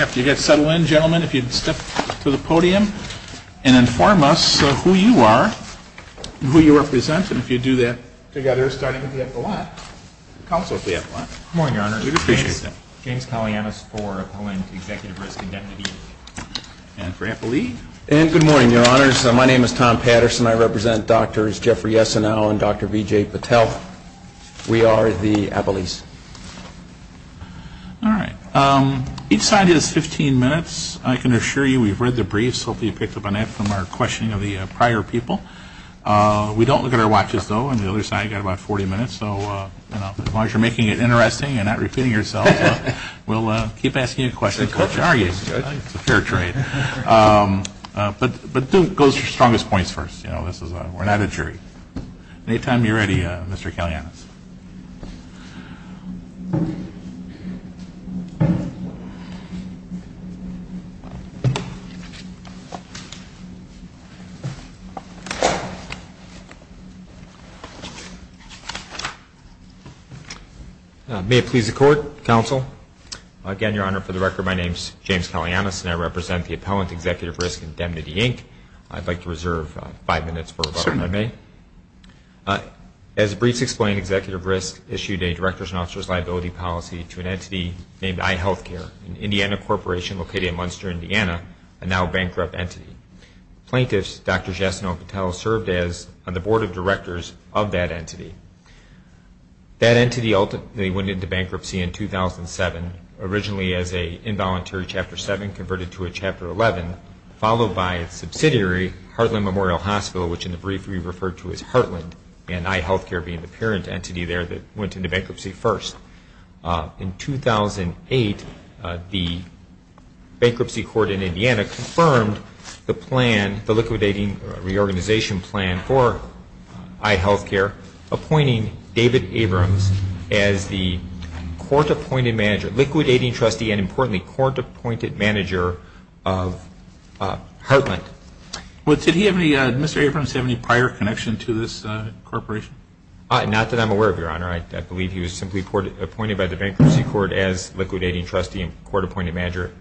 After you get settled in, gentlemen, if you'd step to the podium and inform us who you are and who you represent. And if you do that, together, starting at the epilogue, counsel at the epilogue. Good morning, Your Honor. We'd appreciate that. James Kaloyanis for Appellant Executive Risk Indemnity. And for Appellee. And good morning, Your Honors. My name is Tom Patterson. I represent Drs. Jeffrey Yessenow and Dr. Vijay Patel. We are the Appellees. All right. Each side has 15 minutes. I can assure you we've read the briefs. Hopefully you picked up on that from our questioning of the prior people. We don't look at our watches, though. On the other side, you've got about 40 minutes. So as long as you're making it interesting and not repeating yourselves, we'll keep asking you questions. It's a fair trade. But don't go to your strongest points first. We're not a jury. Any time you're ready, Mr. Kaloyanis. May it please the Court, counsel. Again, Your Honor, for the record, my name is James Kaloyanis, and I represent the Appellant Executive Risk Indemnity, Inc. I'd like to reserve five minutes for rebuttal, if I may. Certainly. As the briefs explain, Executive Risk issued a Director's and Officer's Liability Policy to an entity named iHealthcare, an Indiana corporation located in Munster, Indiana, a now bankrupt entity. Plaintiffs, Drs. Yessenow and Patel, served on the Board of Directors of that entity. That entity ultimately went into bankruptcy in 2007, originally as an involuntary Chapter 7, converted to a Chapter 11, followed by a subsidiary, Heartland Memorial Hospital, which in the brief we referred to as Heartland, and iHealthcare being the parent entity there that went into bankruptcy first. In 2008, the Bankruptcy Court in Indiana confirmed the plan, the liquidating reorganization plan for iHealthcare, appointing David Abrams as the court-appointed manager, liquidating trustee and, importantly, court-appointed manager of Heartland. Did Mr. Abrams have any prior connection to this corporation? Not that I'm aware of, Your Honor. I believe he was simply appointed by the Bankruptcy Court as liquidating trustee and court-appointed manager,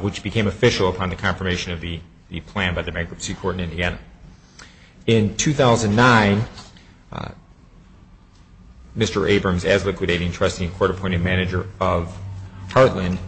which became official upon the confirmation of the plan by the Bankruptcy Court in Indiana. In 2009, Mr. Abrams, as liquidating trustee and court-appointed manager of Heartland,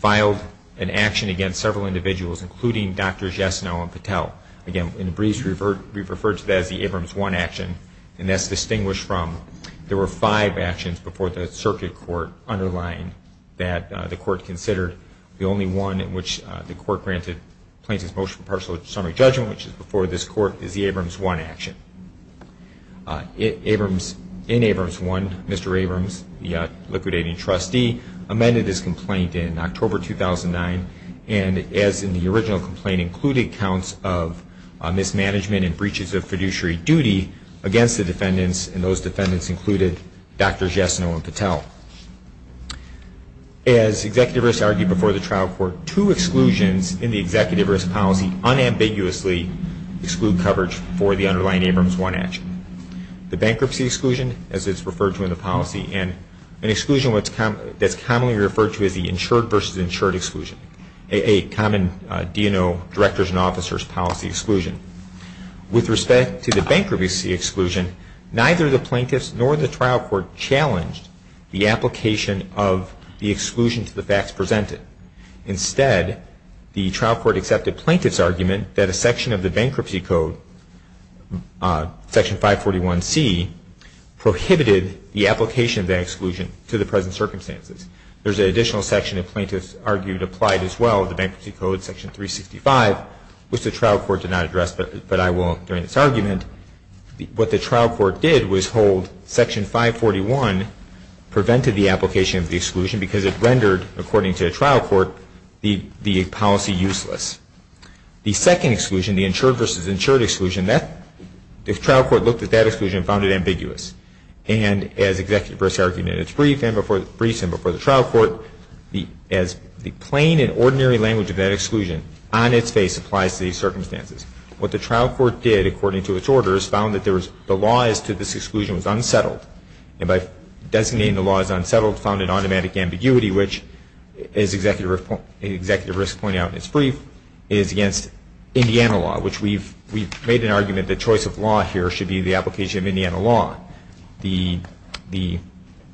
filed an action against several individuals, including Drs. Yesenow and Patel. Again, in the briefs we referred to that as the Abrams 1 action, and that's distinguished from there were five actions before the Circuit Court underlying that the Court considered the only one in which the Court granted plaintiff's motion for partial or summary judgment, which is before this Court, is the Abrams 1 action. In Abrams 1, Mr. Abrams, the liquidating trustee, amended his complaint in October 2009 and, as in the original complaint, included counts of mismanagement and breaches of fiduciary duty against the defendants, and those defendants included Drs. Yesenow and Patel. As Executive Risk argued before the trial court, two exclusions in the Executive Risk policy unambiguously exclude coverage for the underlying Abrams 1 action. The bankruptcy exclusion, as it's referred to in the policy, and an exclusion that's commonly referred to as the insured versus insured exclusion, a common DNO, Directors and Officers, policy exclusion. With respect to the bankruptcy exclusion, neither the plaintiffs nor the trial court challenged the application of the exclusion to the facts presented. Instead, the trial court accepted plaintiff's argument that a section of the bankruptcy code, Section 541C, prohibited the application of that exclusion to the present circumstances. There's an additional section that plaintiffs argued applied as well, the bankruptcy code, Section 365, which the trial court did not address, but I will during this argument. What the trial court did was hold Section 541 prevented the application of the exclusion because it rendered, according to the trial court, the policy useless. The second exclusion, the insured versus insured exclusion, the trial court looked at that exclusion and found it ambiguous. And as Executive Risk argued in its brief and before the trial court, as the plain and ordinary language of that exclusion on its face applies to these circumstances. What the trial court did, according to its orders, found that the law as to this exclusion was unsettled. And by designating the law as unsettled, found an automatic ambiguity, which, as Executive Risk pointed out in its brief, is against Indiana law, which we've made an argument that choice of law here should be the application of Indiana law. The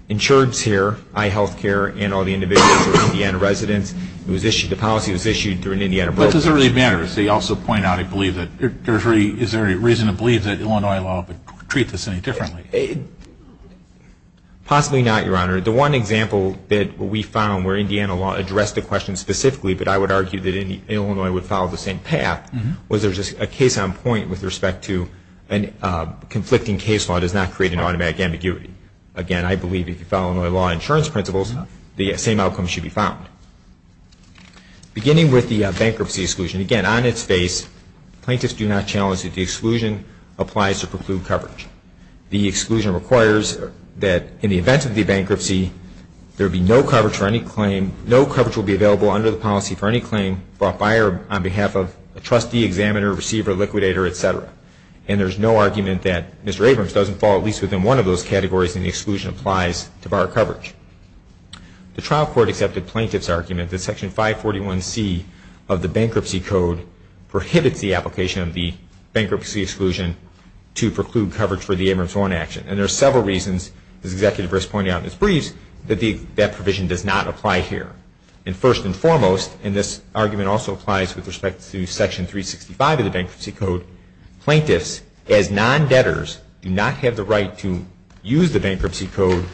insureds here, iHealthcare and all the individuals who are Indiana residents, the policy was issued during the Indiana broke. But does it really matter? As he also pointed out, I believe that there's a reason to believe that Illinois law would treat this any differently. Possibly not, Your Honor. The one example that we found where Indiana law addressed the question specifically, but I would argue that Illinois would follow the same path, was there's a case on point with respect to conflicting case law does not create an automatic ambiguity. Again, I believe if you follow Illinois law insurance principles, the same outcome should be found. Beginning with the bankruptcy exclusion, again, on its face, plaintiffs do not challenge that the exclusion applies to preclude coverage. The exclusion requires that in the event of the bankruptcy, there would be no coverage for any claim, no coverage would be available under the policy for any claim brought by or on behalf of a trustee, examiner, receiver, liquidator, et cetera. And there's no argument that Mr. Abrams doesn't fall at least within one of those categories and the exclusion applies to bar coverage. The trial court accepted plaintiff's argument that Section 541C of the Bankruptcy Code prohibits the application of the bankruptcy exclusion to preclude coverage for the Abrams 1 action. And there are several reasons, as Executive Risk pointed out in his briefs, that that provision does not apply here. And first and foremost, and this argument also applies with respect to Section 365 of the Bankruptcy Code, plaintiffs, as non-debtors, do not have the right to use the Bankruptcy Code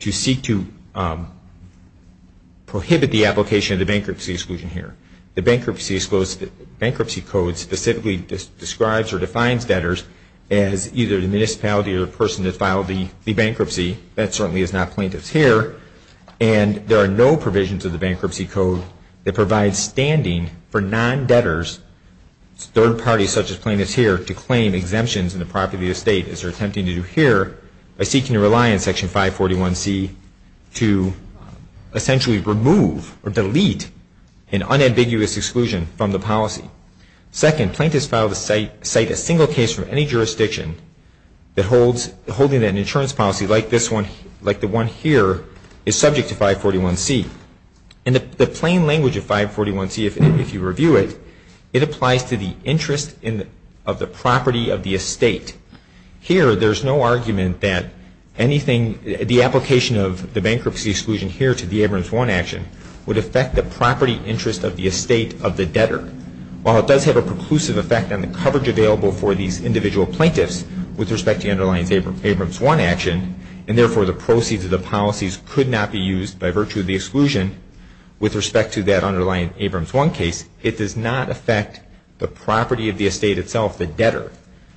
to seek to prohibit the application of the bankruptcy exclusion here. The Bankruptcy Code specifically describes or defines debtors as either the municipality or the person that filed the bankruptcy. That certainly is not plaintiffs here. And there are no provisions of the Bankruptcy Code that provide standing for non-debtors, third parties such as plaintiffs here, to claim exemptions in the property of the state, as they're attempting to do here, by seeking to rely on Section 541C to essentially remove or delete an unambiguous exclusion from the policy. Second, plaintiffs filed to cite a single case from any jurisdiction that holds, holding that an insurance policy like this one, like the one here, is subject to 541C. And the plain language of 541C, if you review it, it applies to the interest of the property of the estate. Here, there's no argument that anything, the application of the bankruptcy exclusion here to the Abrams 1 action would affect the property interest of the estate of the debtor. While it does have a preclusive effect on the coverage available for these individual plaintiffs with respect to the underlying Abrams 1 action, and therefore the proceeds of the policies could not be used by virtue of the exclusion with respect to that underlying Abrams 1 case, it does not affect the property of the estate itself, the debtor.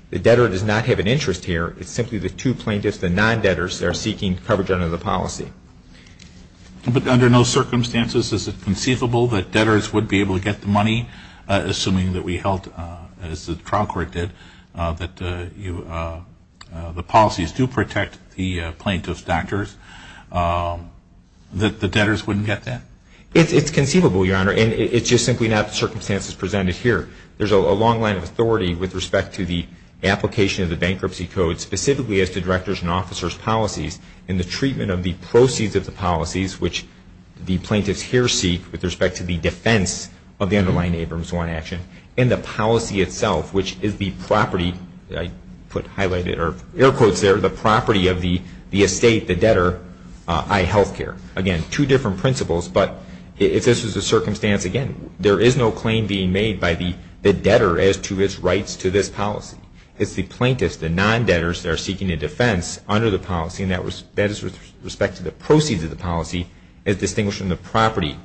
The debtor does not have an interest here. It's simply the two plaintiffs, the non-debtors, that are seeking coverage under the policy. But under no circumstances is it conceivable that debtors would be able to get the money, assuming that we held, as the trial court did, that the policies do protect the plaintiff's debtors, that the debtors wouldn't get that? It's conceivable, Your Honor, and it's just simply not the circumstances presented here. There's a long line of authority with respect to the application of the bankruptcy code, specifically as to directors and officers' policies, and the treatment of the proceeds of the policies, which the plaintiffs here seek with respect to the defense of the underlying Abrams 1 action, and the policy itself, which is the property, I put highlighted or air quotes there, the property of the estate, the debtor, iHealthcare. Again, two different principles, but if this was the circumstance, again, there is no claim being made by the debtor as to its rights to this policy. It's the plaintiffs, the non-debtors, that are seeking a defense under the policy, and that is with respect to the proceeds of the policy, as distinguished from the property.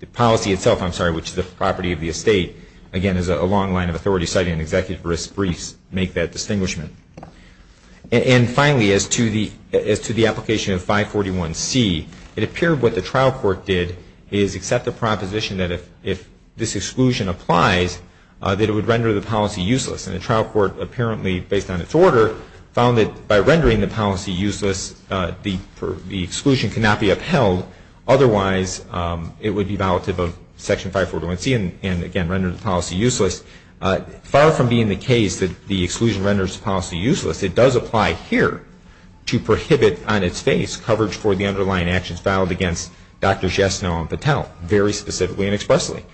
The policy itself, I'm sorry, which is the property of the estate, again, is a long line of authority, citing an executive risk briefs make that distinguishment. And finally, as to the application of 541C, it appeared what the trial court did is accept the proposition that if this exclusion applies, that it would render the policy useless. And the trial court, apparently, based on its order, found that by rendering the policy useless, the exclusion cannot be upheld. Otherwise, it would be violative of Section 541C and, again, render the policy useless. Far from being the case that the exclusion renders the policy useless, it does apply here to prohibit on its face coverage for the underlying actions filed against Dr. Jesno and Patel, very specifically and expressly.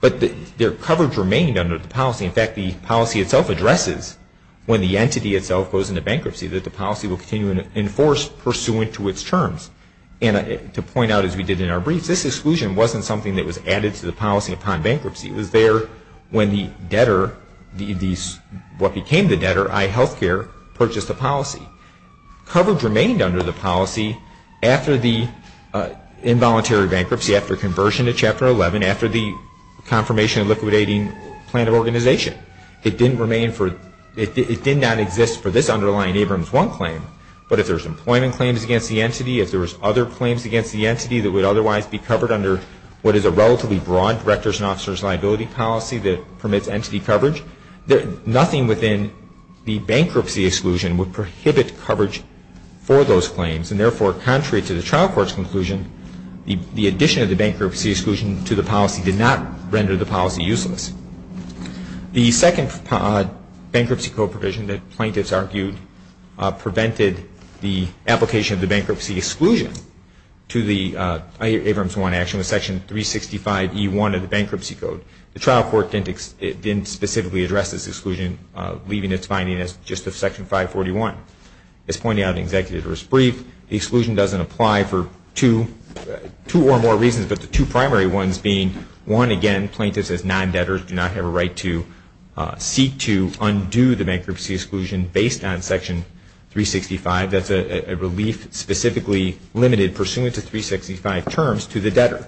But their coverage remained under the policy. In fact, the policy itself addresses, when the entity itself goes into bankruptcy, that the policy will continue to enforce pursuant to its terms. And to point out, as we did in our briefs, this exclusion wasn't something that was added to the policy upon bankruptcy. It was there when the debtor, what became the debtor, iHealthcare, purchased the policy. Coverage remained under the policy after the involuntary bankruptcy, after conversion to Chapter 11, after the confirmation and liquidating plan of organization. It didn't remain for, it did not exist for this underlying Abrams 1 claim. But if there's employment claims against the entity, if there's other claims against the entity that would otherwise be covered under what is a relatively broad directors and officers liability policy that permits entity coverage, nothing within the bankruptcy exclusion would prohibit coverage for those claims. And therefore, contrary to the trial court's conclusion, the addition of the bankruptcy exclusion to the policy did not render the policy useless. The second bankruptcy code provision that plaintiffs argued prevented the application of the bankruptcy exclusion to the Abrams 1 action was Section 365E1 of the Bankruptcy Code. The trial court didn't specifically address this exclusion, leaving its finding as just of Section 541. As pointed out in the executor's brief, the exclusion doesn't apply for two or more reasons, but the two primary ones being, one, again, plaintiffs as non-debtors do not have a right to seek to undo the bankruptcy exclusion based on Section 365. That's a relief specifically limited pursuant to 365 terms to the debtor.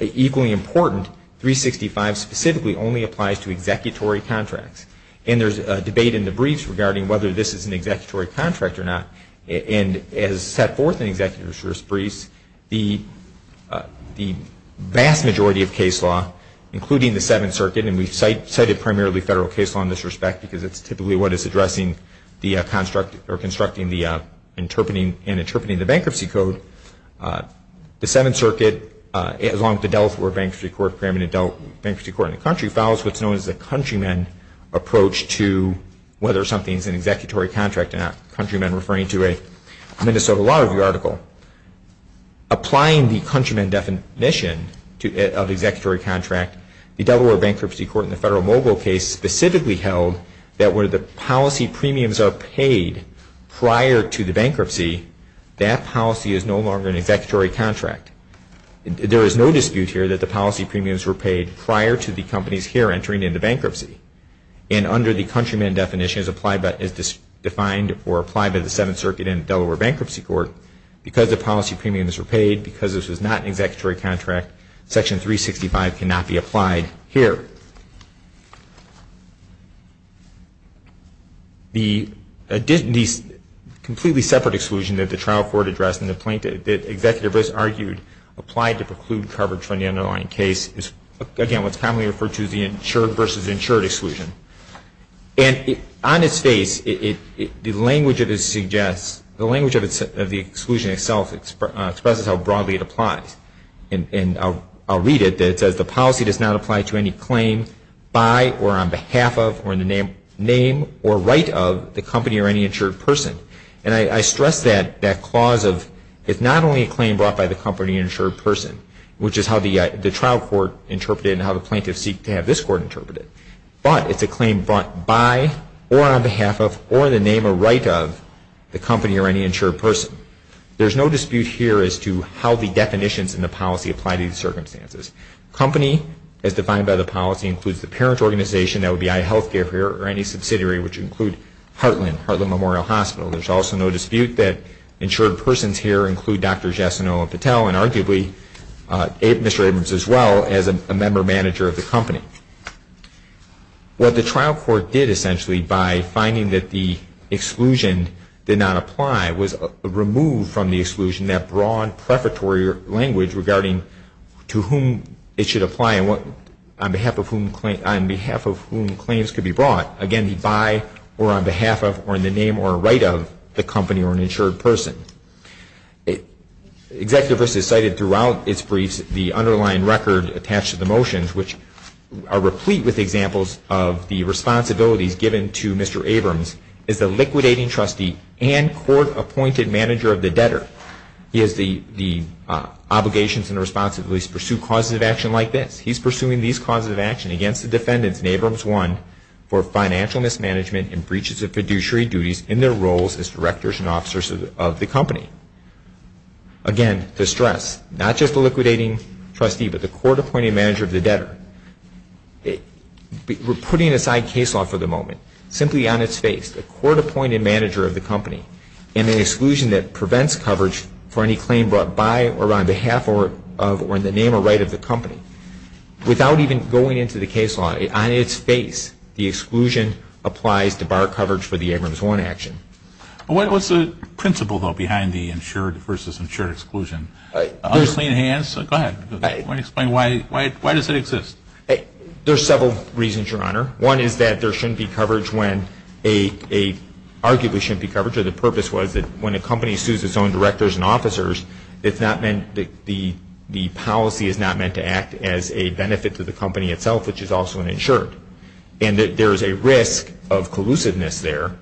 Equally important, 365 specifically only applies to executory contracts. And there's a debate in the briefs regarding whether this is an executory contract or not. And as set forth in executor's briefs, the vast majority of case law, including the Seventh Circuit, and we've cited primarily federal case law in this respect because it's typically what is addressing the construct or constructing the interpreting and interpreting the bankruptcy code. The Seventh Circuit, along with the Delaware Bankruptcy Court, in the country, follows what's known as the countrymen approach to whether something is an executory contract and not countrymen, referring to a Minnesota Law Review article. Applying the countrymen definition of executory contract, the Delaware Bankruptcy Court in the federal mobile case specifically held that where the policy premiums are paid prior to the bankruptcy, that policy is no longer an executory contract. There is no dispute here that the policy premiums were paid prior to the companies here entering into bankruptcy. And under the countrymen definition as defined or applied by the Seventh Circuit and Delaware Bankruptcy Court, because the policy premiums were paid, because this was not an executory contract, Section 365 cannot be applied here. The completely separate exclusion that the trial court addressed in the plaintiff, that Executive Brist argued applied to preclude coverage from the underlying case, is again what's commonly referred to as the insured versus insured exclusion. And on its face, the language of it suggests, the language of the exclusion itself expresses how broadly it applies. And I'll read it. It says the policy does not apply to any claim by or on behalf of or in the name or right of the company or any insured person. And I stress that clause of it's not only a claim brought by the company or insured person, which is how the trial court interpreted it and how the plaintiffs seek to have this court interpret it. But it's a claim brought by or on behalf of or in the name or right of the company or any insured person. There's no dispute here as to how the definitions in the policy apply to these circumstances. Company, as defined by the policy, includes the parent organization, that would be iHealthcare here, or any subsidiary, which would include Heartland, Heartland Memorial Hospital. There's also no dispute that insured persons here include Dr. Jessenow and Patel, and arguably Mr. Abrams as well, as a member manager of the company. What the trial court did essentially by finding that the exclusion did not apply was remove from the exclusion that broad prefatory language regarding to whom it should apply and on behalf of whom claims could be brought. Again, by or on behalf of or in the name or right of the company or an insured person. Executivist has cited throughout its briefs the underlying record attached to the motions, which are replete with examples of the responsibilities given to Mr. Abrams as the liquidating trustee and court appointed manager of the debtor. He has the obligations and responsibilities to pursue causes of action like this. He's pursuing these causes of action against the defendants in Abrams 1 for financial mismanagement and breaches of fiduciary duties in their roles as directors and officers of the company. Again, to stress, not just the liquidating trustee, but the court appointed manager of the debtor. We're putting aside case law for the moment. Simply on its face, the court appointed manager of the company and an exclusion that prevents coverage for any claim brought by or on behalf of or in the name or right of the company. Without even going into the case law, on its face, the exclusion applies to bar coverage for the Abrams 1 action. What's the principle, though, behind the insured versus insured exclusion? Go ahead. Why does it exist? There's several reasons, Your Honor. One is that there shouldn't be coverage when a – arguably shouldn't be coverage, it's not meant – the policy is not meant to act as a benefit to the company itself, which is also an insured. And that there is a risk of collusiveness there.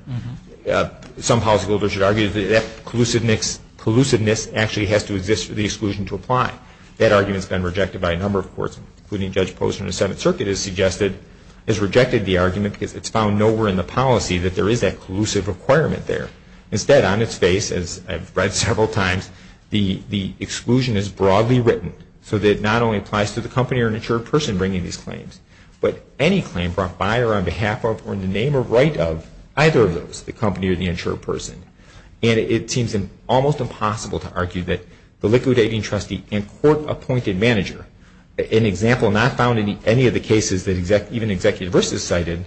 Some policyholders should argue that collusiveness actually has to exist for the exclusion to apply. That argument has been rejected by a number of courts, including Judge Posner in the Seventh Circuit has suggested – has rejected the argument because it's found nowhere in the policy that there is that collusive requirement there. Instead, on its face, as I've read several times, the exclusion is broadly written so that it not only applies to the company or an insured person bringing these claims, but any claim brought by or on behalf of or in the name or right of either of those, the company or the insured person. And it seems almost impossible to argue that the liquidating trustee and court-appointed manager, an example not found in any of the cases that even executive versus cited,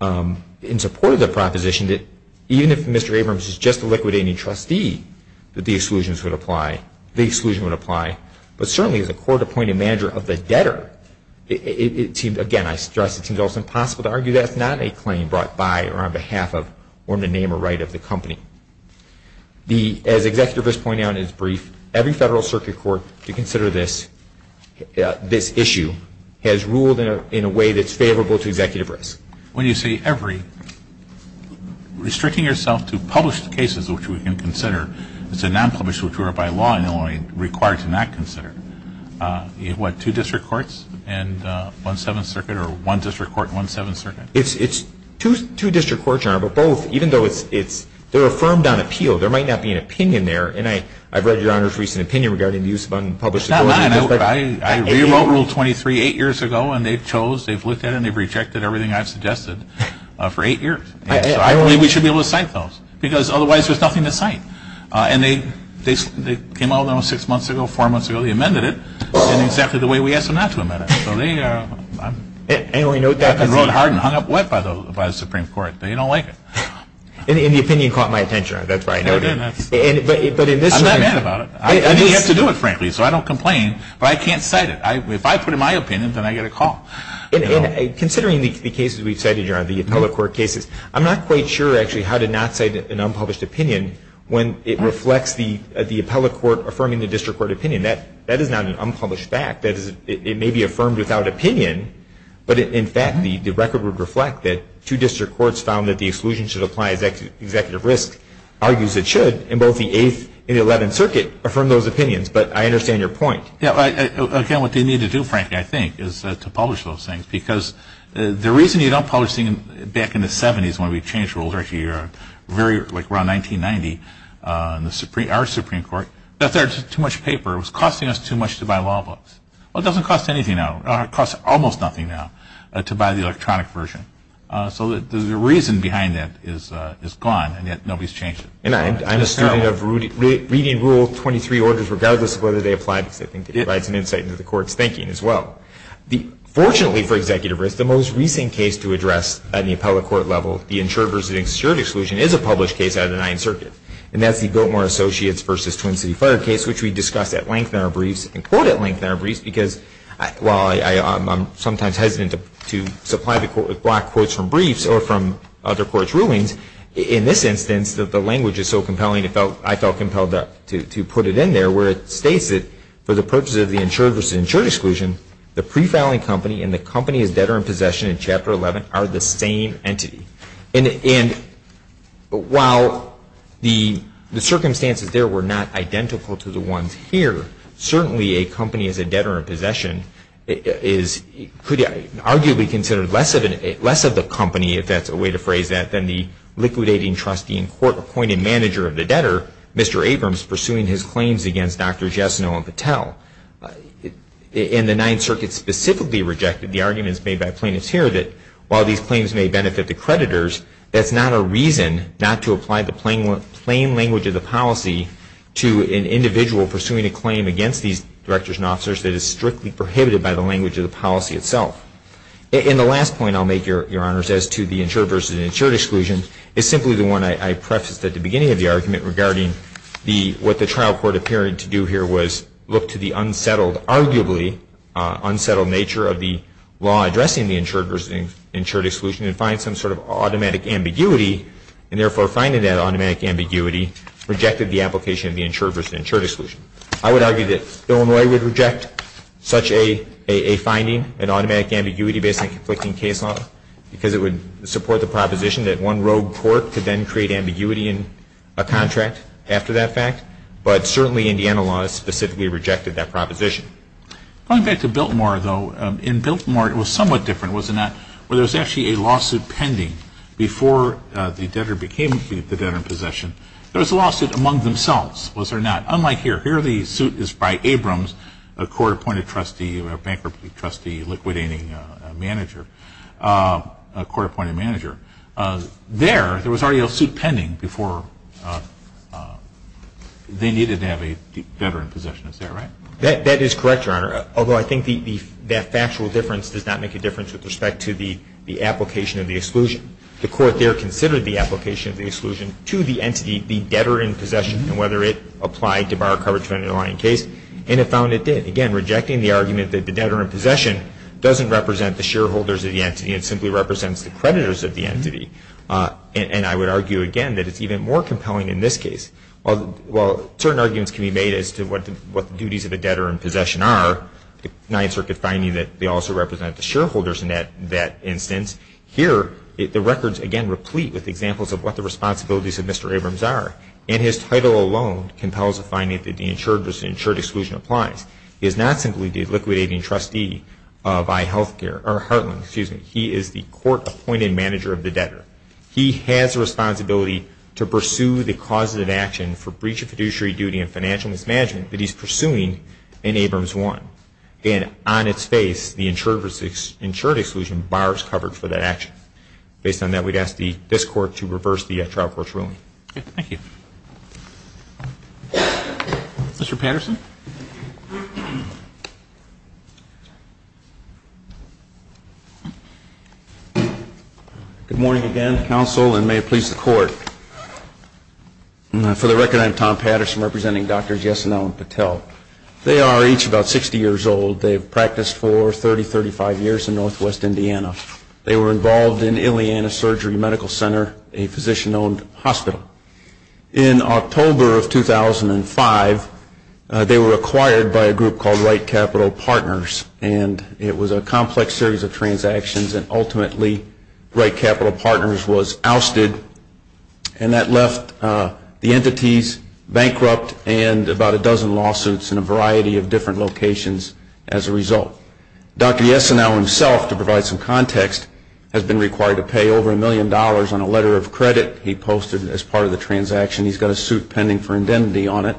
in support of the proposition that even if Mr. Abrams is just a liquidating trustee, that the exclusion would apply. But certainly as a court-appointed manager of the debtor, it seems – again, I stress it seems almost impossible to argue that it's not a claim brought by or on behalf of or in the name or right of the company. As Executive Risk pointed out in his brief, every federal circuit court to consider this issue has ruled in a way that's favorable to Executive Risk. When you say every, restricting yourself to published cases, which we can consider, it's a non-published which we are by law only required to not consider. What, two district courts and one Seventh Circuit or one district court and one Seventh Circuit? It's two district courts, Your Honor, but both, even though it's – they're affirmed on appeal. There might not be an opinion there. And I've read Your Honor's recent opinion regarding the use of unpublished courts. I rewrote Rule 23 eight years ago, and they've chose, they've looked at it, and they've rejected everything I've suggested for eight years. So I believe we should be able to cite those, because otherwise there's nothing to cite. And they came out with it six months ago, four months ago. They amended it in exactly the way we asked them not to amend it. So they – I've been wrote hard and hung up wet by the Supreme Court. They don't like it. And the opinion caught my attention. That's why I noted it. I'm not mad about it. I mean, you have to do it, frankly, so I don't complain. But I can't cite it. If I put in my opinion, then I get a call. And considering the cases we've cited, Your Honor, the appellate court cases, I'm not quite sure, actually, how to not cite an unpublished opinion when it reflects the appellate court affirming the district court opinion. That is not an unpublished fact. It may be affirmed without opinion, but in fact, the record would reflect that two district courts found that the exclusion should apply as executive risk argues it should, in both the 8th and the 11th Circuit, affirm those opinions. But I understand your point. Yeah, again, what they need to do, frankly, I think, is to publish those things. Because the reason you don't publish them back in the 70s when we changed rules, actually around 1990 in our Supreme Court, that's too much paper. It was costing us too much to buy law books. Well, it doesn't cost anything now. It costs almost nothing now to buy the electronic version. So the reason behind that is gone, and yet nobody's changed it. And I'm a student of reading Rule 23 orders regardless of whether they apply, because I think it provides an insight into the Court's thinking as well. Fortunately for executive risk, the most recent case to address at the appellate court level, the insured versus insured exclusion, is a published case out of the 9th Circuit, and that's the Gilmore Associates v. Twin City Fire case, which we discussed at length in our briefs, and quote at length in our briefs, because while I'm sometimes hesitant to supply the Court with black quotes from briefs or from other courts' rulings, in this instance, the language is so compelling, I felt compelled to put it in there, where it states that for the purposes of the insured versus insured exclusion, the pre-filing company and the company as debtor in possession in Chapter 11 are the same entity. And while the circumstances there were not identical to the ones here, certainly a company as a debtor in possession is arguably considered less of the company, if that's a way to phrase that, than the liquidating trustee and court-appointed manager of the debtor, Mr. Abrams, pursuing his claims against Dr. Jesno and Patel. In the 9th Circuit specifically rejected, the arguments made by plaintiffs here that while these claims may benefit the creditors, that's not a reason not to apply the plain language of the policy to an individual pursuing a claim against these directors and officers that is strictly prohibited by the language of the policy itself. And the last point I'll make, Your Honors, as to the insured versus insured exclusion is simply the one I prefaced at the beginning of the argument regarding what the trial court appeared to do here was look to the unsettled, arguably unsettled nature of the law addressing the insured versus insured exclusion and find some sort of automatic ambiguity, and therefore finding that automatic ambiguity rejected the application of the insured versus insured exclusion. I would argue that Illinois would reject such a finding, an automatic ambiguity based on conflicting case law, because it would support the proposition that one rogue court could then create ambiguity in a contract after that fact, but certainly Indiana law specifically rejected that proposition. Going back to Biltmore though, in Biltmore it was somewhat different, was it not, where there was actually a lawsuit pending before the debtor became the debtor in possession. There was a lawsuit among themselves, was there not? Unlike here, here the suit is by Abrams, a court-appointed trustee, a bankruptcy trustee, liquidating manager, a court-appointed manager. There, there was already a suit pending before they needed to have a debtor in possession, is that right? That is correct, Your Honor, although I think that factual difference does not make a difference with respect to the application of the exclusion. The court there considered the application of the exclusion to the entity, the case, and it found it did. Again, rejecting the argument that the debtor in possession does not represent the shareholders of the entity, it simply represents the creditors of the entity. And I would argue again that it is even more compelling in this case. While certain arguments can be made as to what the duties of the debtor in possession are, the Ninth Circuit finding that they also represent the shareholders in that instance, here the records again replete with examples of what the responsibilities of Mr. Abrams are. And his title alone compels a finding that the insured exclusion applies. He is not simply the liquidating trustee of iHealthcare, or Heartland, excuse me. He is the court-appointed manager of the debtor. He has a responsibility to pursue the causes of action for breach of fiduciary duty and financial mismanagement that he is pursuing in Abrams 1. And on its face, the insured exclusion bars covered for that action. Based on that, we would ask this Court to reverse the trial court's ruling. Thank you. Mr. Patterson. Good morning again, Counsel, and may it please the Court. For the record, I'm Tom Patterson representing Drs. Yesenow and Patel. They are each about 60 years old. They've practiced for 30, 35 years in northwest Indiana. They were involved in Ileana Surgery Medical Center, a physician-owned hospital. In October of 2005, they were acquired by a group called Wright Capital Partners, and it was a complex series of transactions. And ultimately, Wright Capital Partners was ousted, and that left the entities bankrupt and about a dozen lawsuits in a variety of different locations as a result. Dr. Yesenow himself, to provide some context, has been required to pay over a million dollars on a letter of credit he posted as part of the transaction. He's got a suit pending for indemnity on it.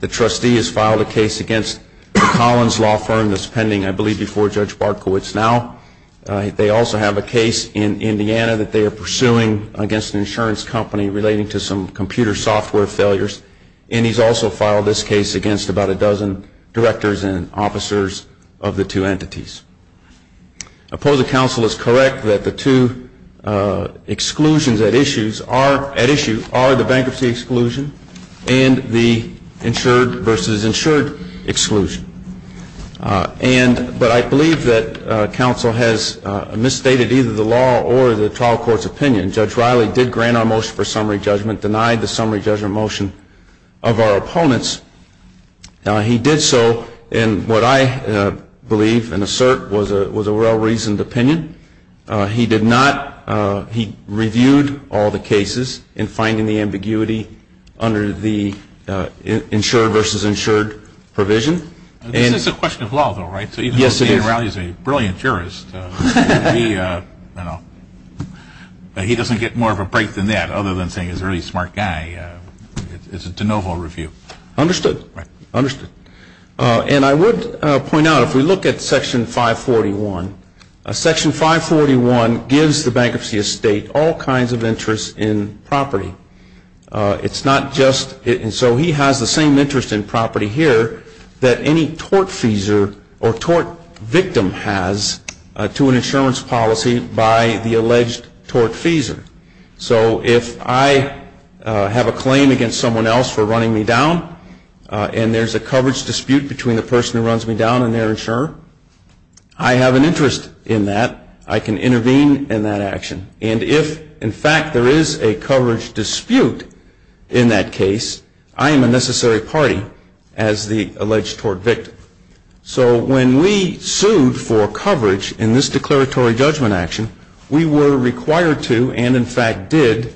The trustee has filed a case against Collins Law Firm that's pending, I believe, before Judge Bartkowitz now. They also have a case in Indiana that they are pursuing against an insurance company relating to some computer software failures. And he's also filed this case against about a dozen directors and officers of the two entities. Opposing counsel is correct that the two exclusions at issue are the bankruptcy exclusion and the insured versus insured exclusion. But I believe that counsel has misstated either the law or the trial court's opinion. Judge Riley did grant our motion for summary judgment, denied the summary judgment motion of our opponents. He did so in what I believe and assert was a well-reasoned opinion. He did not. He reviewed all the cases in finding the ambiguity under the insured versus insured provision. This is a question of law, though, right? Yes, it is. So even though David Riley is a brilliant jurist, he doesn't get more of a break than that other than saying he's a really smart guy. It's a de novo review. Understood. Understood. And I would point out, if we look at Section 541, Section 541 gives the bankruptcy estate all kinds of interest in property. It's not just so he has the same interest in property here that any tortfeasor or tort victim has to an insurance policy by the alleged tortfeasor. So if I have a claim against someone else for running me down and there's a coverage dispute between the person who runs me down and their insurer, I have an interest in that. I can intervene in that action. And if, in fact, there is a coverage dispute in that case, I am a necessary party as the alleged tort victim. So when we sued for coverage in this declaratory judgment action, we were required to and, in fact, did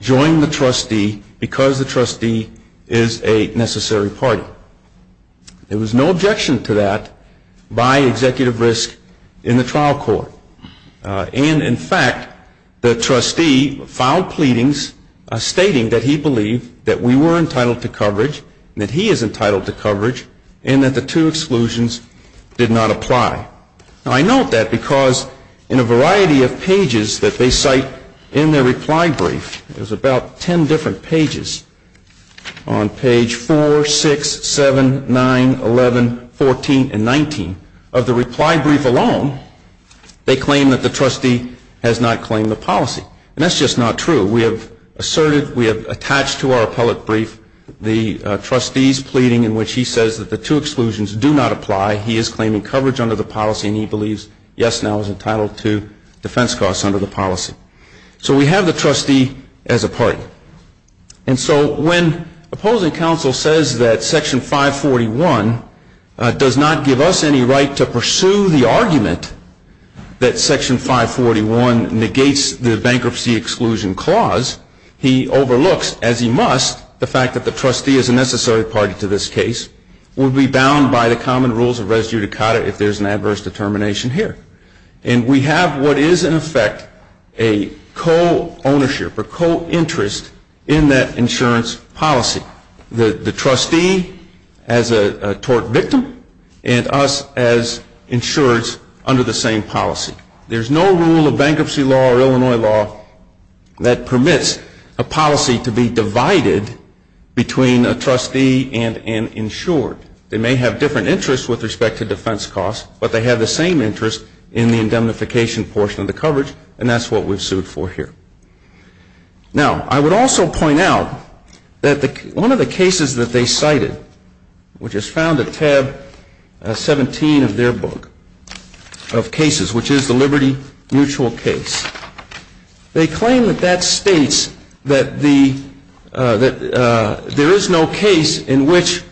join the trustee because the trustee is a necessary party. There was no objection to that by executive risk in the trial court. And, in fact, the trustee filed pleadings stating that he believed that we were entitled to coverage and that he is entitled to coverage and that the two exclusions did not apply. Now, I note that because in a variety of pages that they cite in their reply brief, there's about 10 different pages on page 4, 6, 7, 9, 11, 14, and 19. Of the reply brief alone, they claim that the trustee has not claimed the policy. And that's just not true. We have asserted, we have attached to our appellate brief the trustee's pleading in which he says that the two exclusions do not apply. He is claiming coverage under the policy and he believes, yes, now, he's entitled to defense costs under the policy. So we have the trustee as a party. And so when opposing counsel says that Section 541 does not give us any right to pursue the argument that Section 541 negates the bankruptcy exclusion clause, he overlooks, as he must, the fact that the trustee is a necessary party to this case, would be bound by the common rules of res judicata if there's an adverse determination here. And we have what is, in effect, a co-ownership or co-interest in that insurance policy, the trustee as a tort victim and us as insurers under the same policy. There's no rule of bankruptcy law or Illinois law that permits a policy to be divided between a trustee and an insured. They may have different interests with respect to defense costs, but they have the same interest in the indemnification portion of the coverage, and that's what we've sued for here. Now, I would also point out that one of the cases that they cited, which is found at tab 17 of their book of cases, which is the Liberty Mutual case, they claim that that states that there is no case in which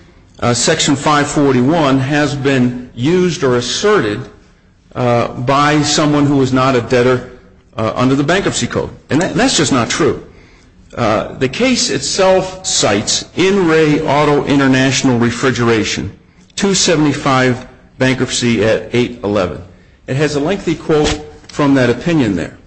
Section 541 has been used or asserted by someone who is not a debtor under the bankruptcy code. And that's just not true. The case itself cites NRA Auto International Refrigeration, 275 bankruptcy at 811. It has a lengthy quote from that opinion there.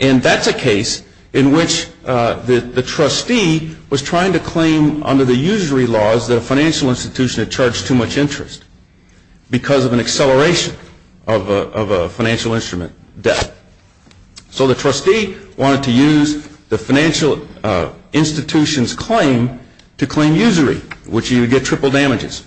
And that's a case in which the trustee was trying to claim under the usury laws that a financial institution had charged too much interest because of an acceleration of a financial instrument debt. So the trustee wanted to use the financial institution's claim to claim usury, which you would get triple damages.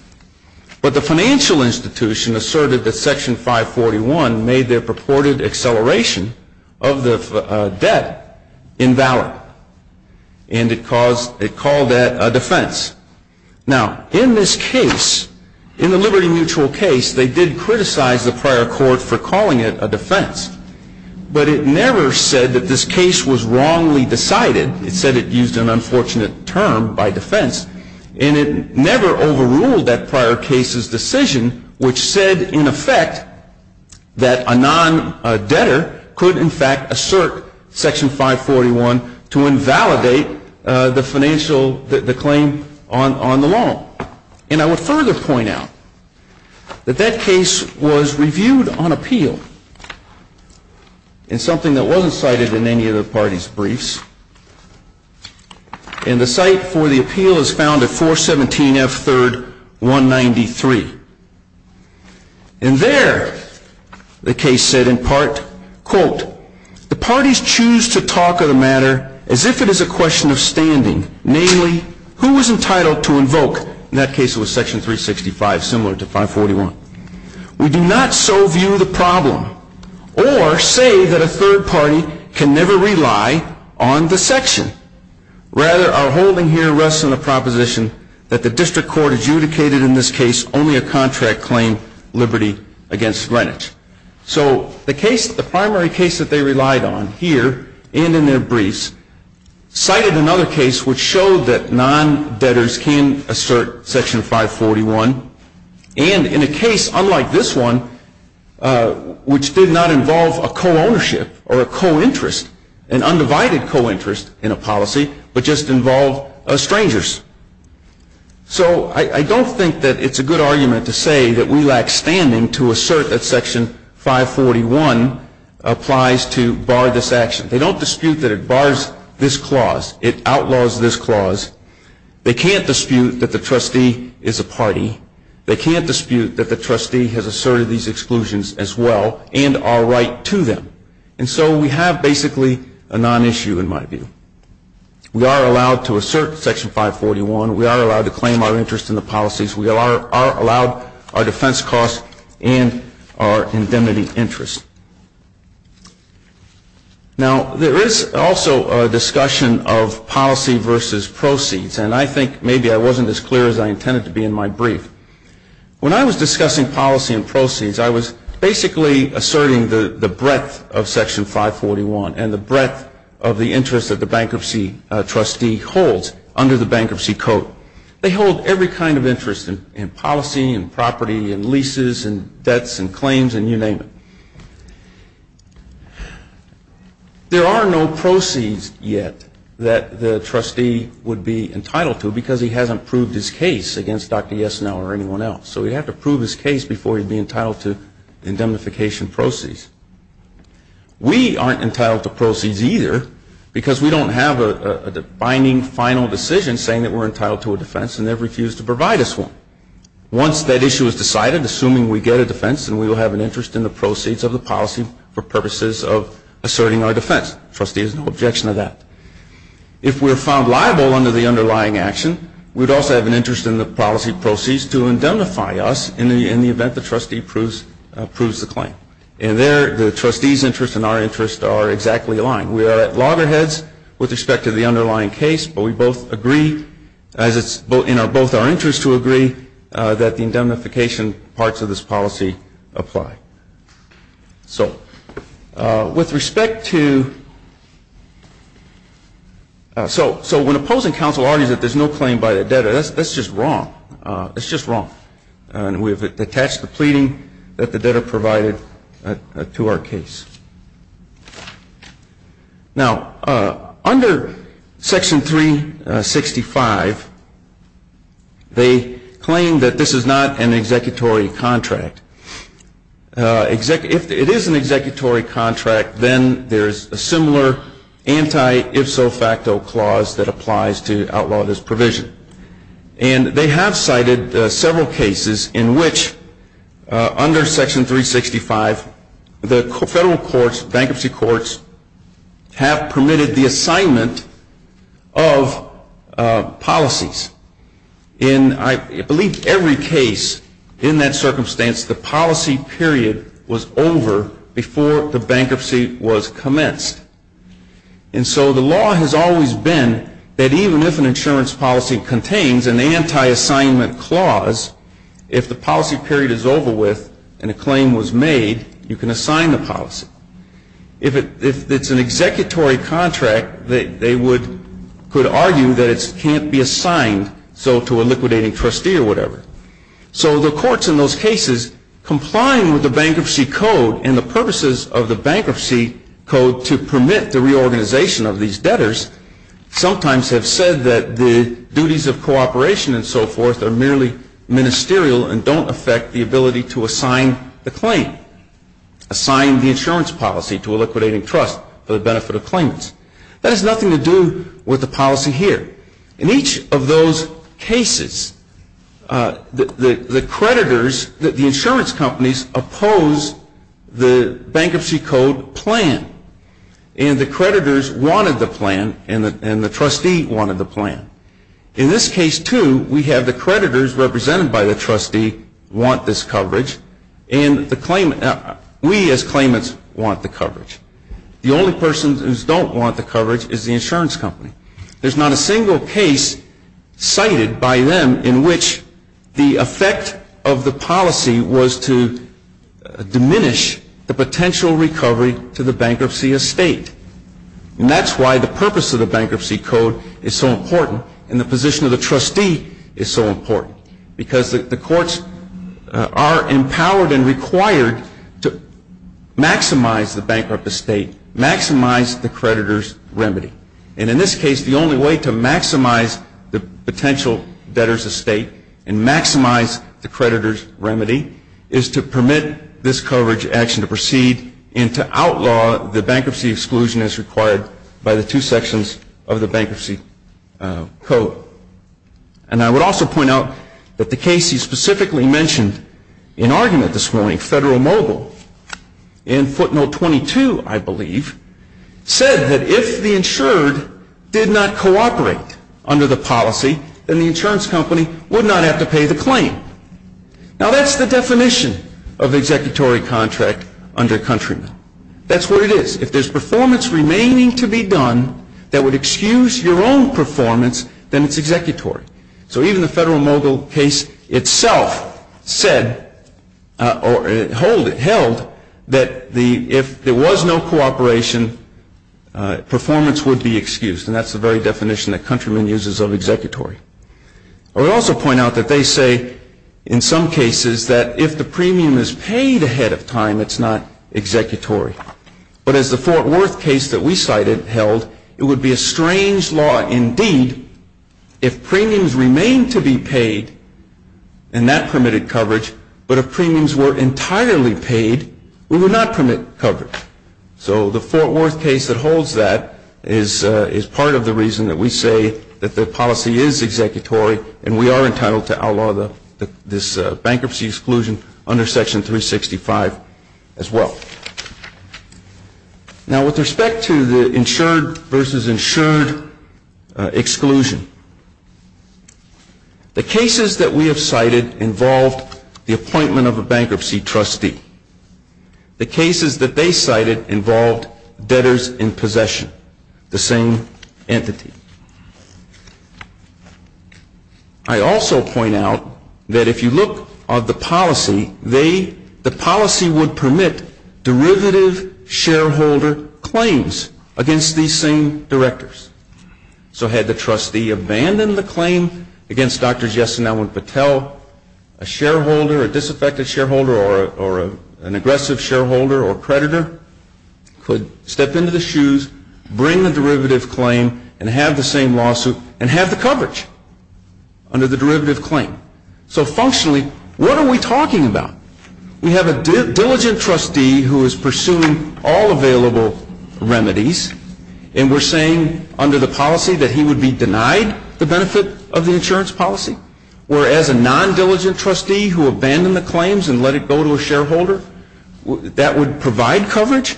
But the financial institution asserted that Section 541 made their purported acceleration of the debt invalid, and it called that a defense. Now, in this case, in the Liberty Mutual case, they did criticize the prior court for calling it a defense. But it never said that this case was wrongly decided. It said it used an unfortunate term by defense. And it never overruled that prior case's decision, which said, in effect, that a non-debtor could, in fact, assert Section 541 to invalidate the financial claim on the loan. And I would further point out that that case was reviewed on appeal in something that wasn't cited in any of the parties' briefs. And the site for the appeal is found at 417F 3rd, 193. And there, the case said in part, quote, The parties choose to talk of the matter as if it is a question of standing, namely, who is entitled to invoke, in that case it was Section 365, similar to 541. We do not so view the problem or say that a third party can never rely on the section. Rather, our holding here rests on the proposition that the district court adjudicated in this case only a contract claim, Liberty against Greenwich. So the case, the primary case that they relied on here and in their briefs, cited another case which showed that non-debtors can assert Section 541. And in a case unlike this one, which did not involve a co-ownership or a co-interest, an undivided co-interest in a policy, but just involved strangers. So I don't think that it's a good argument to say that we lack standing to assert that Section 541 applies to bar this action. They don't dispute that it bars this clause. It outlaws this clause. They can't dispute that the trustee is a party. They can't dispute that the trustee has asserted these exclusions as well and are right to them. And so we have basically a non-issue in my view. We are allowed to assert Section 541. We are allowed to claim our interest in the policies. We are allowed our defense costs and our indemnity interest. Now, there is also a discussion of policy versus proceeds, and I think maybe I wasn't as clear as I intended to be in my brief. When I was discussing policy and proceeds, I was basically asserting the breadth of Section 541 and the breadth of the interest that the bankruptcy trustee holds under the Bankruptcy Code. They hold every kind of interest in policy and property and leases and debts and claims and you name it. There are no proceeds yet that the trustee would be entitled to because he hasn't proved his case against Dr. Yesenow or anyone else. So he'd have to prove his case before he'd be entitled to indemnification proceeds. We aren't entitled to proceeds either because we don't have a binding final decision saying that we're entitled to a defense and they've refused to provide us one. Once that issue is decided, assuming we get a defense, then we will have an interest in the proceeds of the policy for purposes of asserting our defense. The trustee has no objection to that. If we're found liable under the underlying action, we'd also have an interest in the policy proceeds to indemnify us in the event the trustee proves the claim. And there the trustee's interest and our interest are exactly aligned. We are at loggerheads with respect to the underlying case, but we both agree as it's in both our interests to agree that the indemnification parts of this policy apply. So with respect to – so when opposing counsel argues that there's no claim by the debtor, that's just wrong. That's just wrong. And we've attached the pleading that the debtor provided to our case. Now, under Section 365, they claim that this is not an executory contract. If it is an executory contract, then there's a similar anti-if-so-facto clause that applies to outlaw this provision. And they have cited several cases in which, under Section 365, the federal courts, bankruptcy courts, have permitted the assignment of policies. In I believe every case in that circumstance, the policy period was over before the bankruptcy was commenced. And so the law has always been that even if an insurance policy contains an anti-assignment clause, if the policy period is over with and a claim was made, you can assign the policy. If it's an executory contract, they could argue that it can't be assigned to a liquidating trustee or whatever. So the courts in those cases, complying with the Bankruptcy Code and the purposes of the Bankruptcy Code to permit the reorganization of these debtors, sometimes have said that the duties of cooperation and so forth are merely ministerial and don't affect the ability to assign the claim, assign the insurance policy to a liquidating trust for the benefit of claimants. That has nothing to do with the policy here. In each of those cases, the creditors, the insurance companies, oppose the Bankruptcy Code plan. And the creditors wanted the plan, and the trustee wanted the plan. In this case, too, we have the creditors represented by the trustee want this coverage, and we as claimants want the coverage. The only person who doesn't want the coverage is the insurance company. There's not a single case cited by them in which the effect of the policy was to diminish the potential recovery to the bankruptcy estate. And that's why the purpose of the Bankruptcy Code is so important, and the position of the trustee is so important, because the courts are empowered and required to maximize the bankrupt estate, maximize the creditor's remedy. And in this case, the only way to maximize the potential debtor's estate and maximize the creditor's remedy is to permit this coverage action to proceed and to outlaw the bankruptcy exclusion as required by the two sections of the Bankruptcy Code. And I would also point out that the case you specifically mentioned in argument this morning, Federal Mobile, in footnote 22, I believe, said that if the insured did not cooperate under the policy, then the insurance company would not have to pay the claim. Now, that's the definition of the executory contract under countrymen. That's what it is. If there's performance remaining to be done that would excuse your own performance, then it's executory. So even the Federal Mobile case itself said or held that if there was no cooperation, performance would be excused. And that's the very definition that countrymen uses of executory. I would also point out that they say in some cases that if the premium is paid ahead of time, it's not executory. But as the Fort Worth case that we cited held, it would be a strange law indeed if premiums remained to be paid and that permitted coverage, but if premiums were entirely paid, we would not permit coverage. So the Fort Worth case that holds that is part of the reason that we say that the policy is executory and we are entitled to outlaw this bankruptcy exclusion under Section 365 as well. Now, with respect to the insured versus insured exclusion, the cases that we have cited involved the appointment of a bankruptcy trustee. The cases that they cited involved debtors in possession, the same entity. I also point out that if you look at the policy, the policy would permit derivative shareholder claims against these same directors. So had the trustee abandoned the claim against Dr. Jessen Elwin Patel, a shareholder, a disaffected shareholder or an aggressive shareholder or predator could step into the shoes, bring the derivative claim and have the same lawsuit and have the coverage under the derivative claim. So functionally, what are we talking about? We have a diligent trustee who is pursuing all available remedies and we're saying under the policy that he would be denied the benefit of the insurance policy. Whereas a non-diligent trustee who abandoned the claims and let it go to a shareholder, that would provide coverage.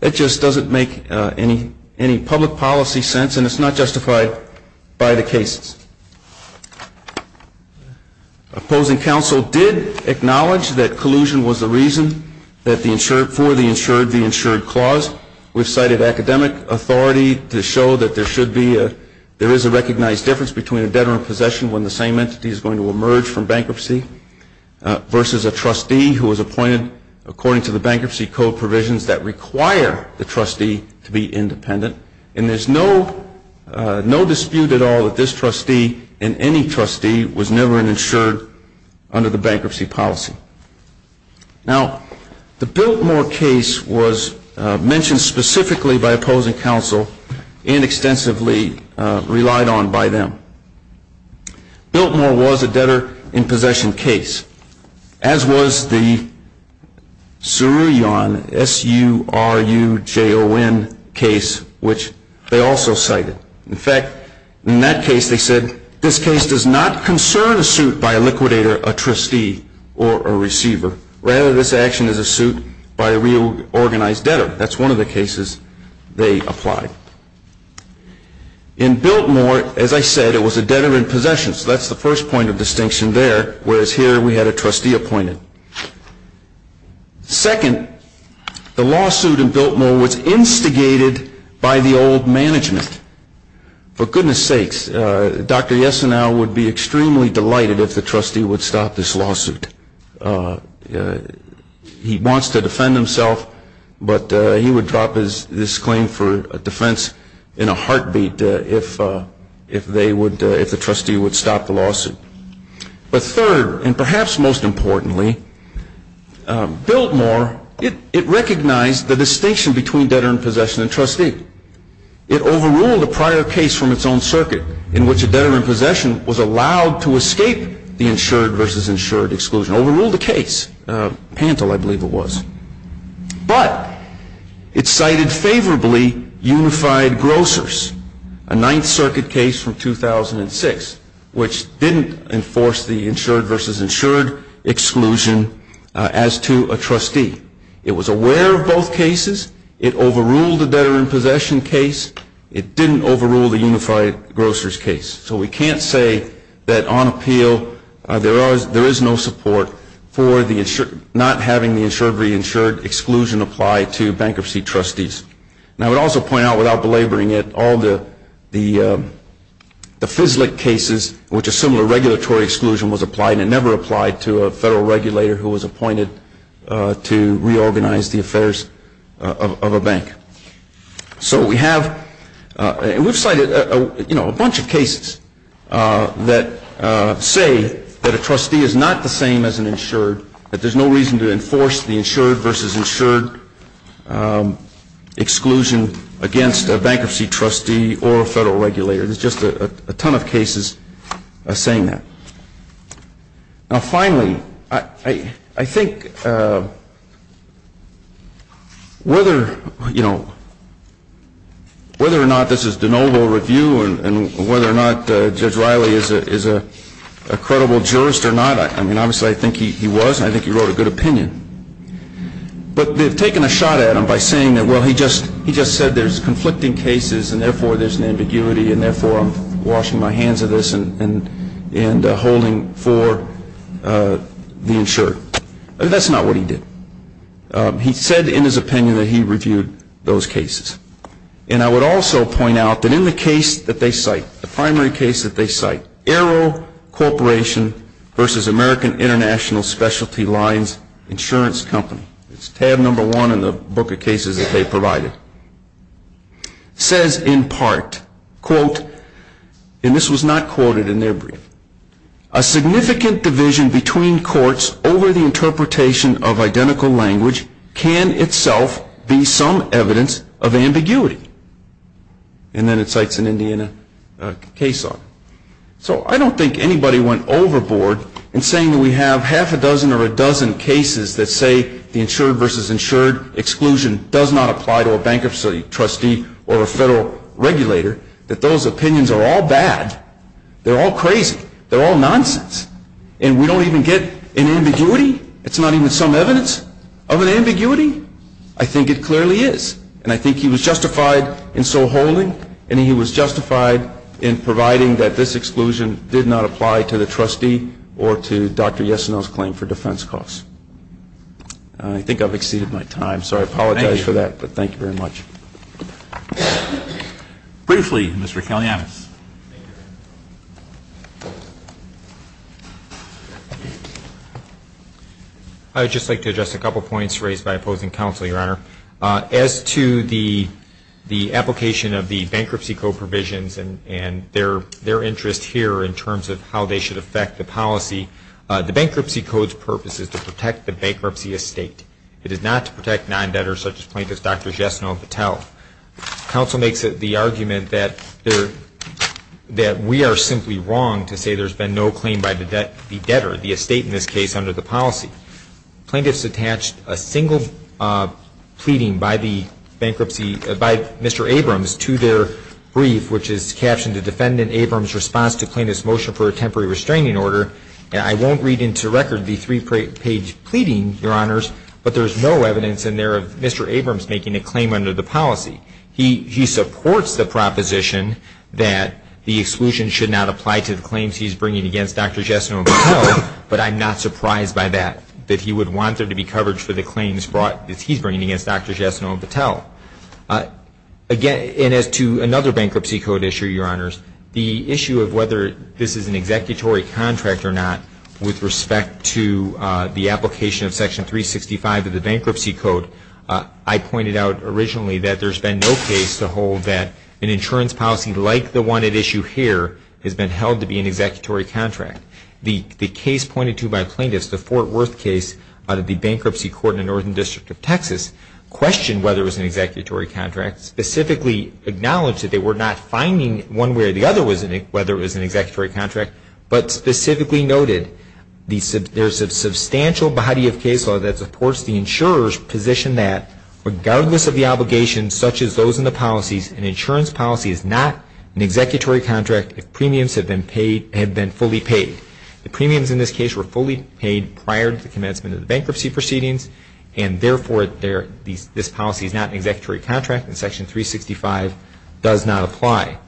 It just doesn't make any public policy sense and it's not justified by the cases. Opposing counsel did acknowledge that collusion was the reason for the insured, the insured clause. We've cited academic authority to show that there is a recognized difference between a debtor in possession when the same entity is going to emerge from bankruptcy versus a trustee who is appointed according to the bankruptcy code provisions that require the trustee to be independent. And there's no dispute at all that this trustee and any trustee was never insured under the bankruptcy policy. Now, the Biltmore case was mentioned specifically by opposing counsel and extensively relied on by them. Biltmore was a debtor in possession case, as was the Surujohn, S-U-R-U-J-O-N case, which they also cited. In fact, in that case they said, this case does not concern a suit by a liquidator, a trustee, or a receiver. Rather, this action is a suit by a reorganized debtor. That's one of the cases they applied. In Biltmore, as I said, it was a debtor in possession. So that's the first point of distinction there, whereas here we had a trustee appointed. Second, the lawsuit in Biltmore was instigated by the old management. For goodness sakes, Dr. Yesenow would be extremely delighted if the trustee would stop this lawsuit. He wants to defend himself, but he would drop this claim for defense in a heartbeat if the trustee would stop the lawsuit. But third, and perhaps most importantly, Biltmore, it recognized the distinction between debtor in possession and trustee. It overruled a prior case from its own circuit in which a debtor in possession was allowed to escape the insured versus insured exclusion, overruled the case, Pantel, I believe it was. But it cited favorably unified grocers, a Ninth Circuit case from 2006, which didn't enforce the insured versus insured exclusion as to a trustee. It was aware of both cases. It overruled the debtor in possession case. It didn't overrule the unified grocers case. So we can't say that on appeal there is no support for not having the insured versus insured exclusion applied to bankruptcy trustees. And I would also point out, without belaboring it, all the FISLIC cases in which a similar regulatory exclusion was applied and never applied to a federal regulator who was appointed to reorganize the affairs of a bank. So we have, and we've cited, you know, a bunch of cases that say that a trustee is not the same as an insured, that there's no reason to enforce the insured versus insured exclusion against a bankruptcy trustee or a federal regulator. There's just a ton of cases saying that. Now, finally, I think whether, you know, whether or not this is de novo review and whether or not Judge Riley is a credible jurist or not, I mean, obviously, I think he was, and I think he wrote a good opinion. But they've taken a shot at him by saying that, well, he just said there's conflicting cases, and therefore there's an ambiguity, and therefore I'm washing my hands of this and holding for the insured. That's not what he did. He said in his opinion that he reviewed those cases. And I would also point out that in the case that they cite, the primary case that they cite, Arrow Corporation versus American International Specialty Lines Insurance Company, it's tab number one in the book of cases that they provided, says in part, quote, and this was not quoted in their brief, a significant division between courts over the interpretation of identical language can itself be some evidence of ambiguity. And then it cites an Indiana case on it. So I don't think anybody went overboard in saying that we have half a dozen or a dozen cases that say the insured versus insured exclusion does not apply to a bankruptcy trustee or a federal regulator, that those opinions are all bad. They're all crazy. They're all nonsense. And we don't even get an ambiguity? It's not even some evidence of an ambiguity? I think it clearly is. And I think he was justified in so holding and he was justified in providing that this exclusion did not apply to the trustee or to Dr. Yesenel's claim for defense costs. I think I've exceeded my time, so I apologize for that. Thank you. But thank you very much. Briefly, Mr. Kalyanis. I would just like to address a couple points raised by opposing counsel, Your Honor. As to the application of the Bankruptcy Code provisions and their interest here in terms of how they should affect the policy, the Bankruptcy Code's purpose is to protect the bankruptcy estate. It is not to protect non-debtors such as plaintiffs Dr. Yesenel and Patel. Counsel makes the argument that we are simply wrong to say there's been no claim by the debtor, the estate in this case, under the policy. Plaintiffs attached a single pleading by the bankruptcy, by Mr. Abrams to their brief, which is captioned, The Defendant Abrams' Response to Plaintiff's Motion for a Temporary Restraining Order. I won't read into record the three-page pleading, Your Honors, but there's no evidence in there of Mr. Abrams making a claim under the policy. He supports the proposition that the exclusion should not apply to the claims he's bringing against Dr. Yesenel and Patel, but I'm not surprised by that, that he would want there to be coverage for the claims he's bringing against Dr. Yesenel and Patel. And as to another Bankruptcy Code issue, Your Honors, the issue of whether this is an executory contract or not with respect to the application of Section 365 of the Bankruptcy Code, I pointed out originally that there's been no case to hold that an insurance policy like the one at issue here has been held to be an executory contract. The case pointed to by plaintiffs, the Fort Worth case out of the Bankruptcy Court in the Northern District of Texas, questioned whether it was an executory contract, specifically acknowledged that they were not finding one way or the other whether it was an executory contract, but specifically noted there's a substantial body of case law that supports the insurer's position that, regardless of the obligation, such as those in the policies, an insurance policy is not an executory contract if premiums have been fully paid. The premiums in this case were fully paid prior to the commencement of the bankruptcy proceedings, and therefore this policy is not an executory contract and Section 365 does not apply.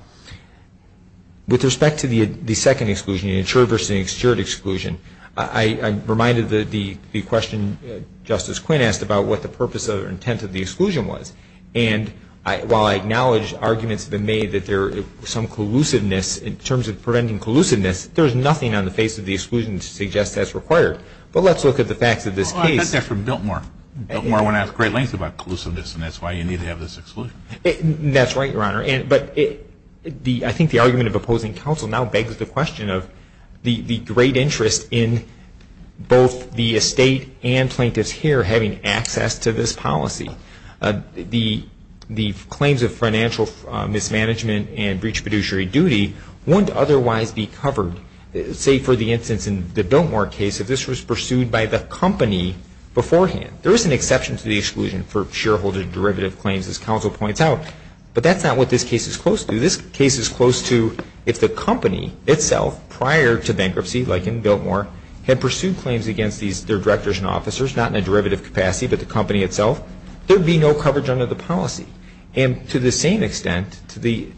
With respect to the second exclusion, the insured versus the insured exclusion, I reminded the question Justice Quinn asked about what the purpose or intent of the exclusion was. And while I acknowledge arguments have been made that there's some collusiveness in terms of preventing collusiveness, there's nothing on the face of the exclusion to suggest that's required. But let's look at the facts of this case. Well, I got that from Biltmore. Biltmore went out to great lengths about collusiveness, and that's why you need to have this exclusion. That's right, Your Honor. But I think the argument of opposing counsel now begs the question of the great interest in both the estate and plaintiffs here having access to this policy. The claims of financial mismanagement and breach of fiduciary duty wouldn't otherwise be covered, say for the instance in the Biltmore case, if this was pursued by the company beforehand. There is an exception to the exclusion for shareholder derivative claims, as counsel points out, but that's not what this case is close to. This case is close to if the company itself prior to bankruptcy, like in Biltmore, had pursued claims against their directors and officers, not in a derivative capacity, but the company itself, there would be no coverage under the policy. And to the same extent, the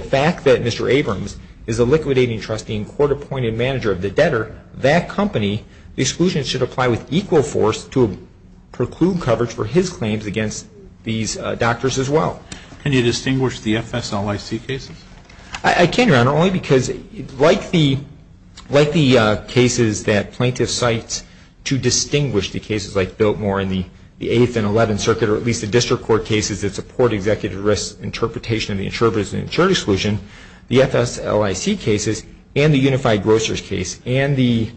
fact that Mr. Abrams is a liquidating trustee and court-appointed manager of the debtor, that company, the exclusion should apply with equal force to preclude coverage for his claims against these doctors as well. Can you distinguish the FSLIC cases? I can, Your Honor, only because like the cases that plaintiffs cite to distinguish the cases like Biltmore and the 8th and 11th Circuit, or at least the district court cases that support executive risk interpretation of the insurer versus insured exclusion, the FSLIC cases and the Unified Grocers case and the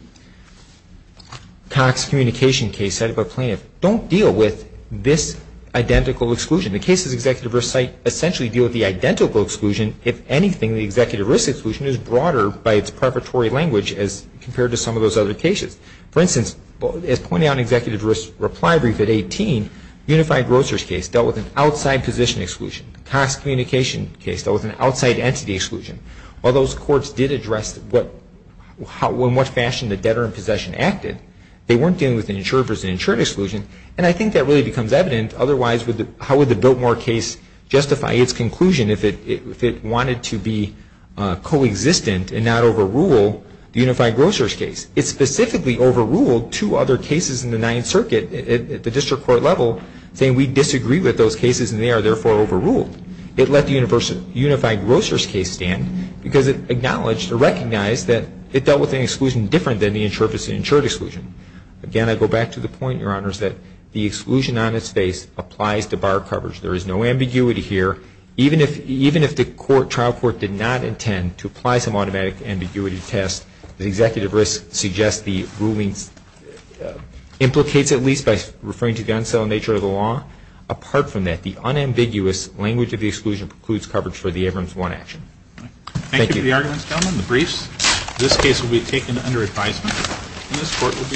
Cox Communication case cited by plaintiffs don't deal with this identical exclusion. The cases executive risk cite essentially deal with the identical exclusion. If anything, the executive risk exclusion is broader by its preparatory language as compared to some of those other cases. For instance, as pointed out in executive risk reply brief at 18, Unified Grocers case dealt with an outside position exclusion. Cox Communication case dealt with an outside entity exclusion. While those courts did address in what fashion the debtor in possession acted, they weren't dealing with the insurer versus insured exclusion, and I think that really becomes evident. Otherwise, how would the Biltmore case justify its conclusion if it wanted to be coexistent and not overrule the Unified Grocers case? It specifically overruled two other cases in the 9th Circuit at the district court level saying we disagree with those cases and they are therefore overruled. It let the Unified Grocers case stand because it acknowledged or recognized that it dealt with an exclusion different than the insurer versus insured exclusion. Again, I go back to the point, Your Honors, that the exclusion on its face applies to bar coverage. There is no ambiguity here. Even if the trial court did not intend to apply some automatic ambiguity test, the executive risk suggests the ruling implicates at least by referring to the unselling nature of the law. Apart from that, the unambiguous language of the exclusion precludes coverage for the Abrams 1 action. Thank you. Thank you for the arguments, gentlemen. The briefs. This case will be taken under advisement. This court will be adjourned.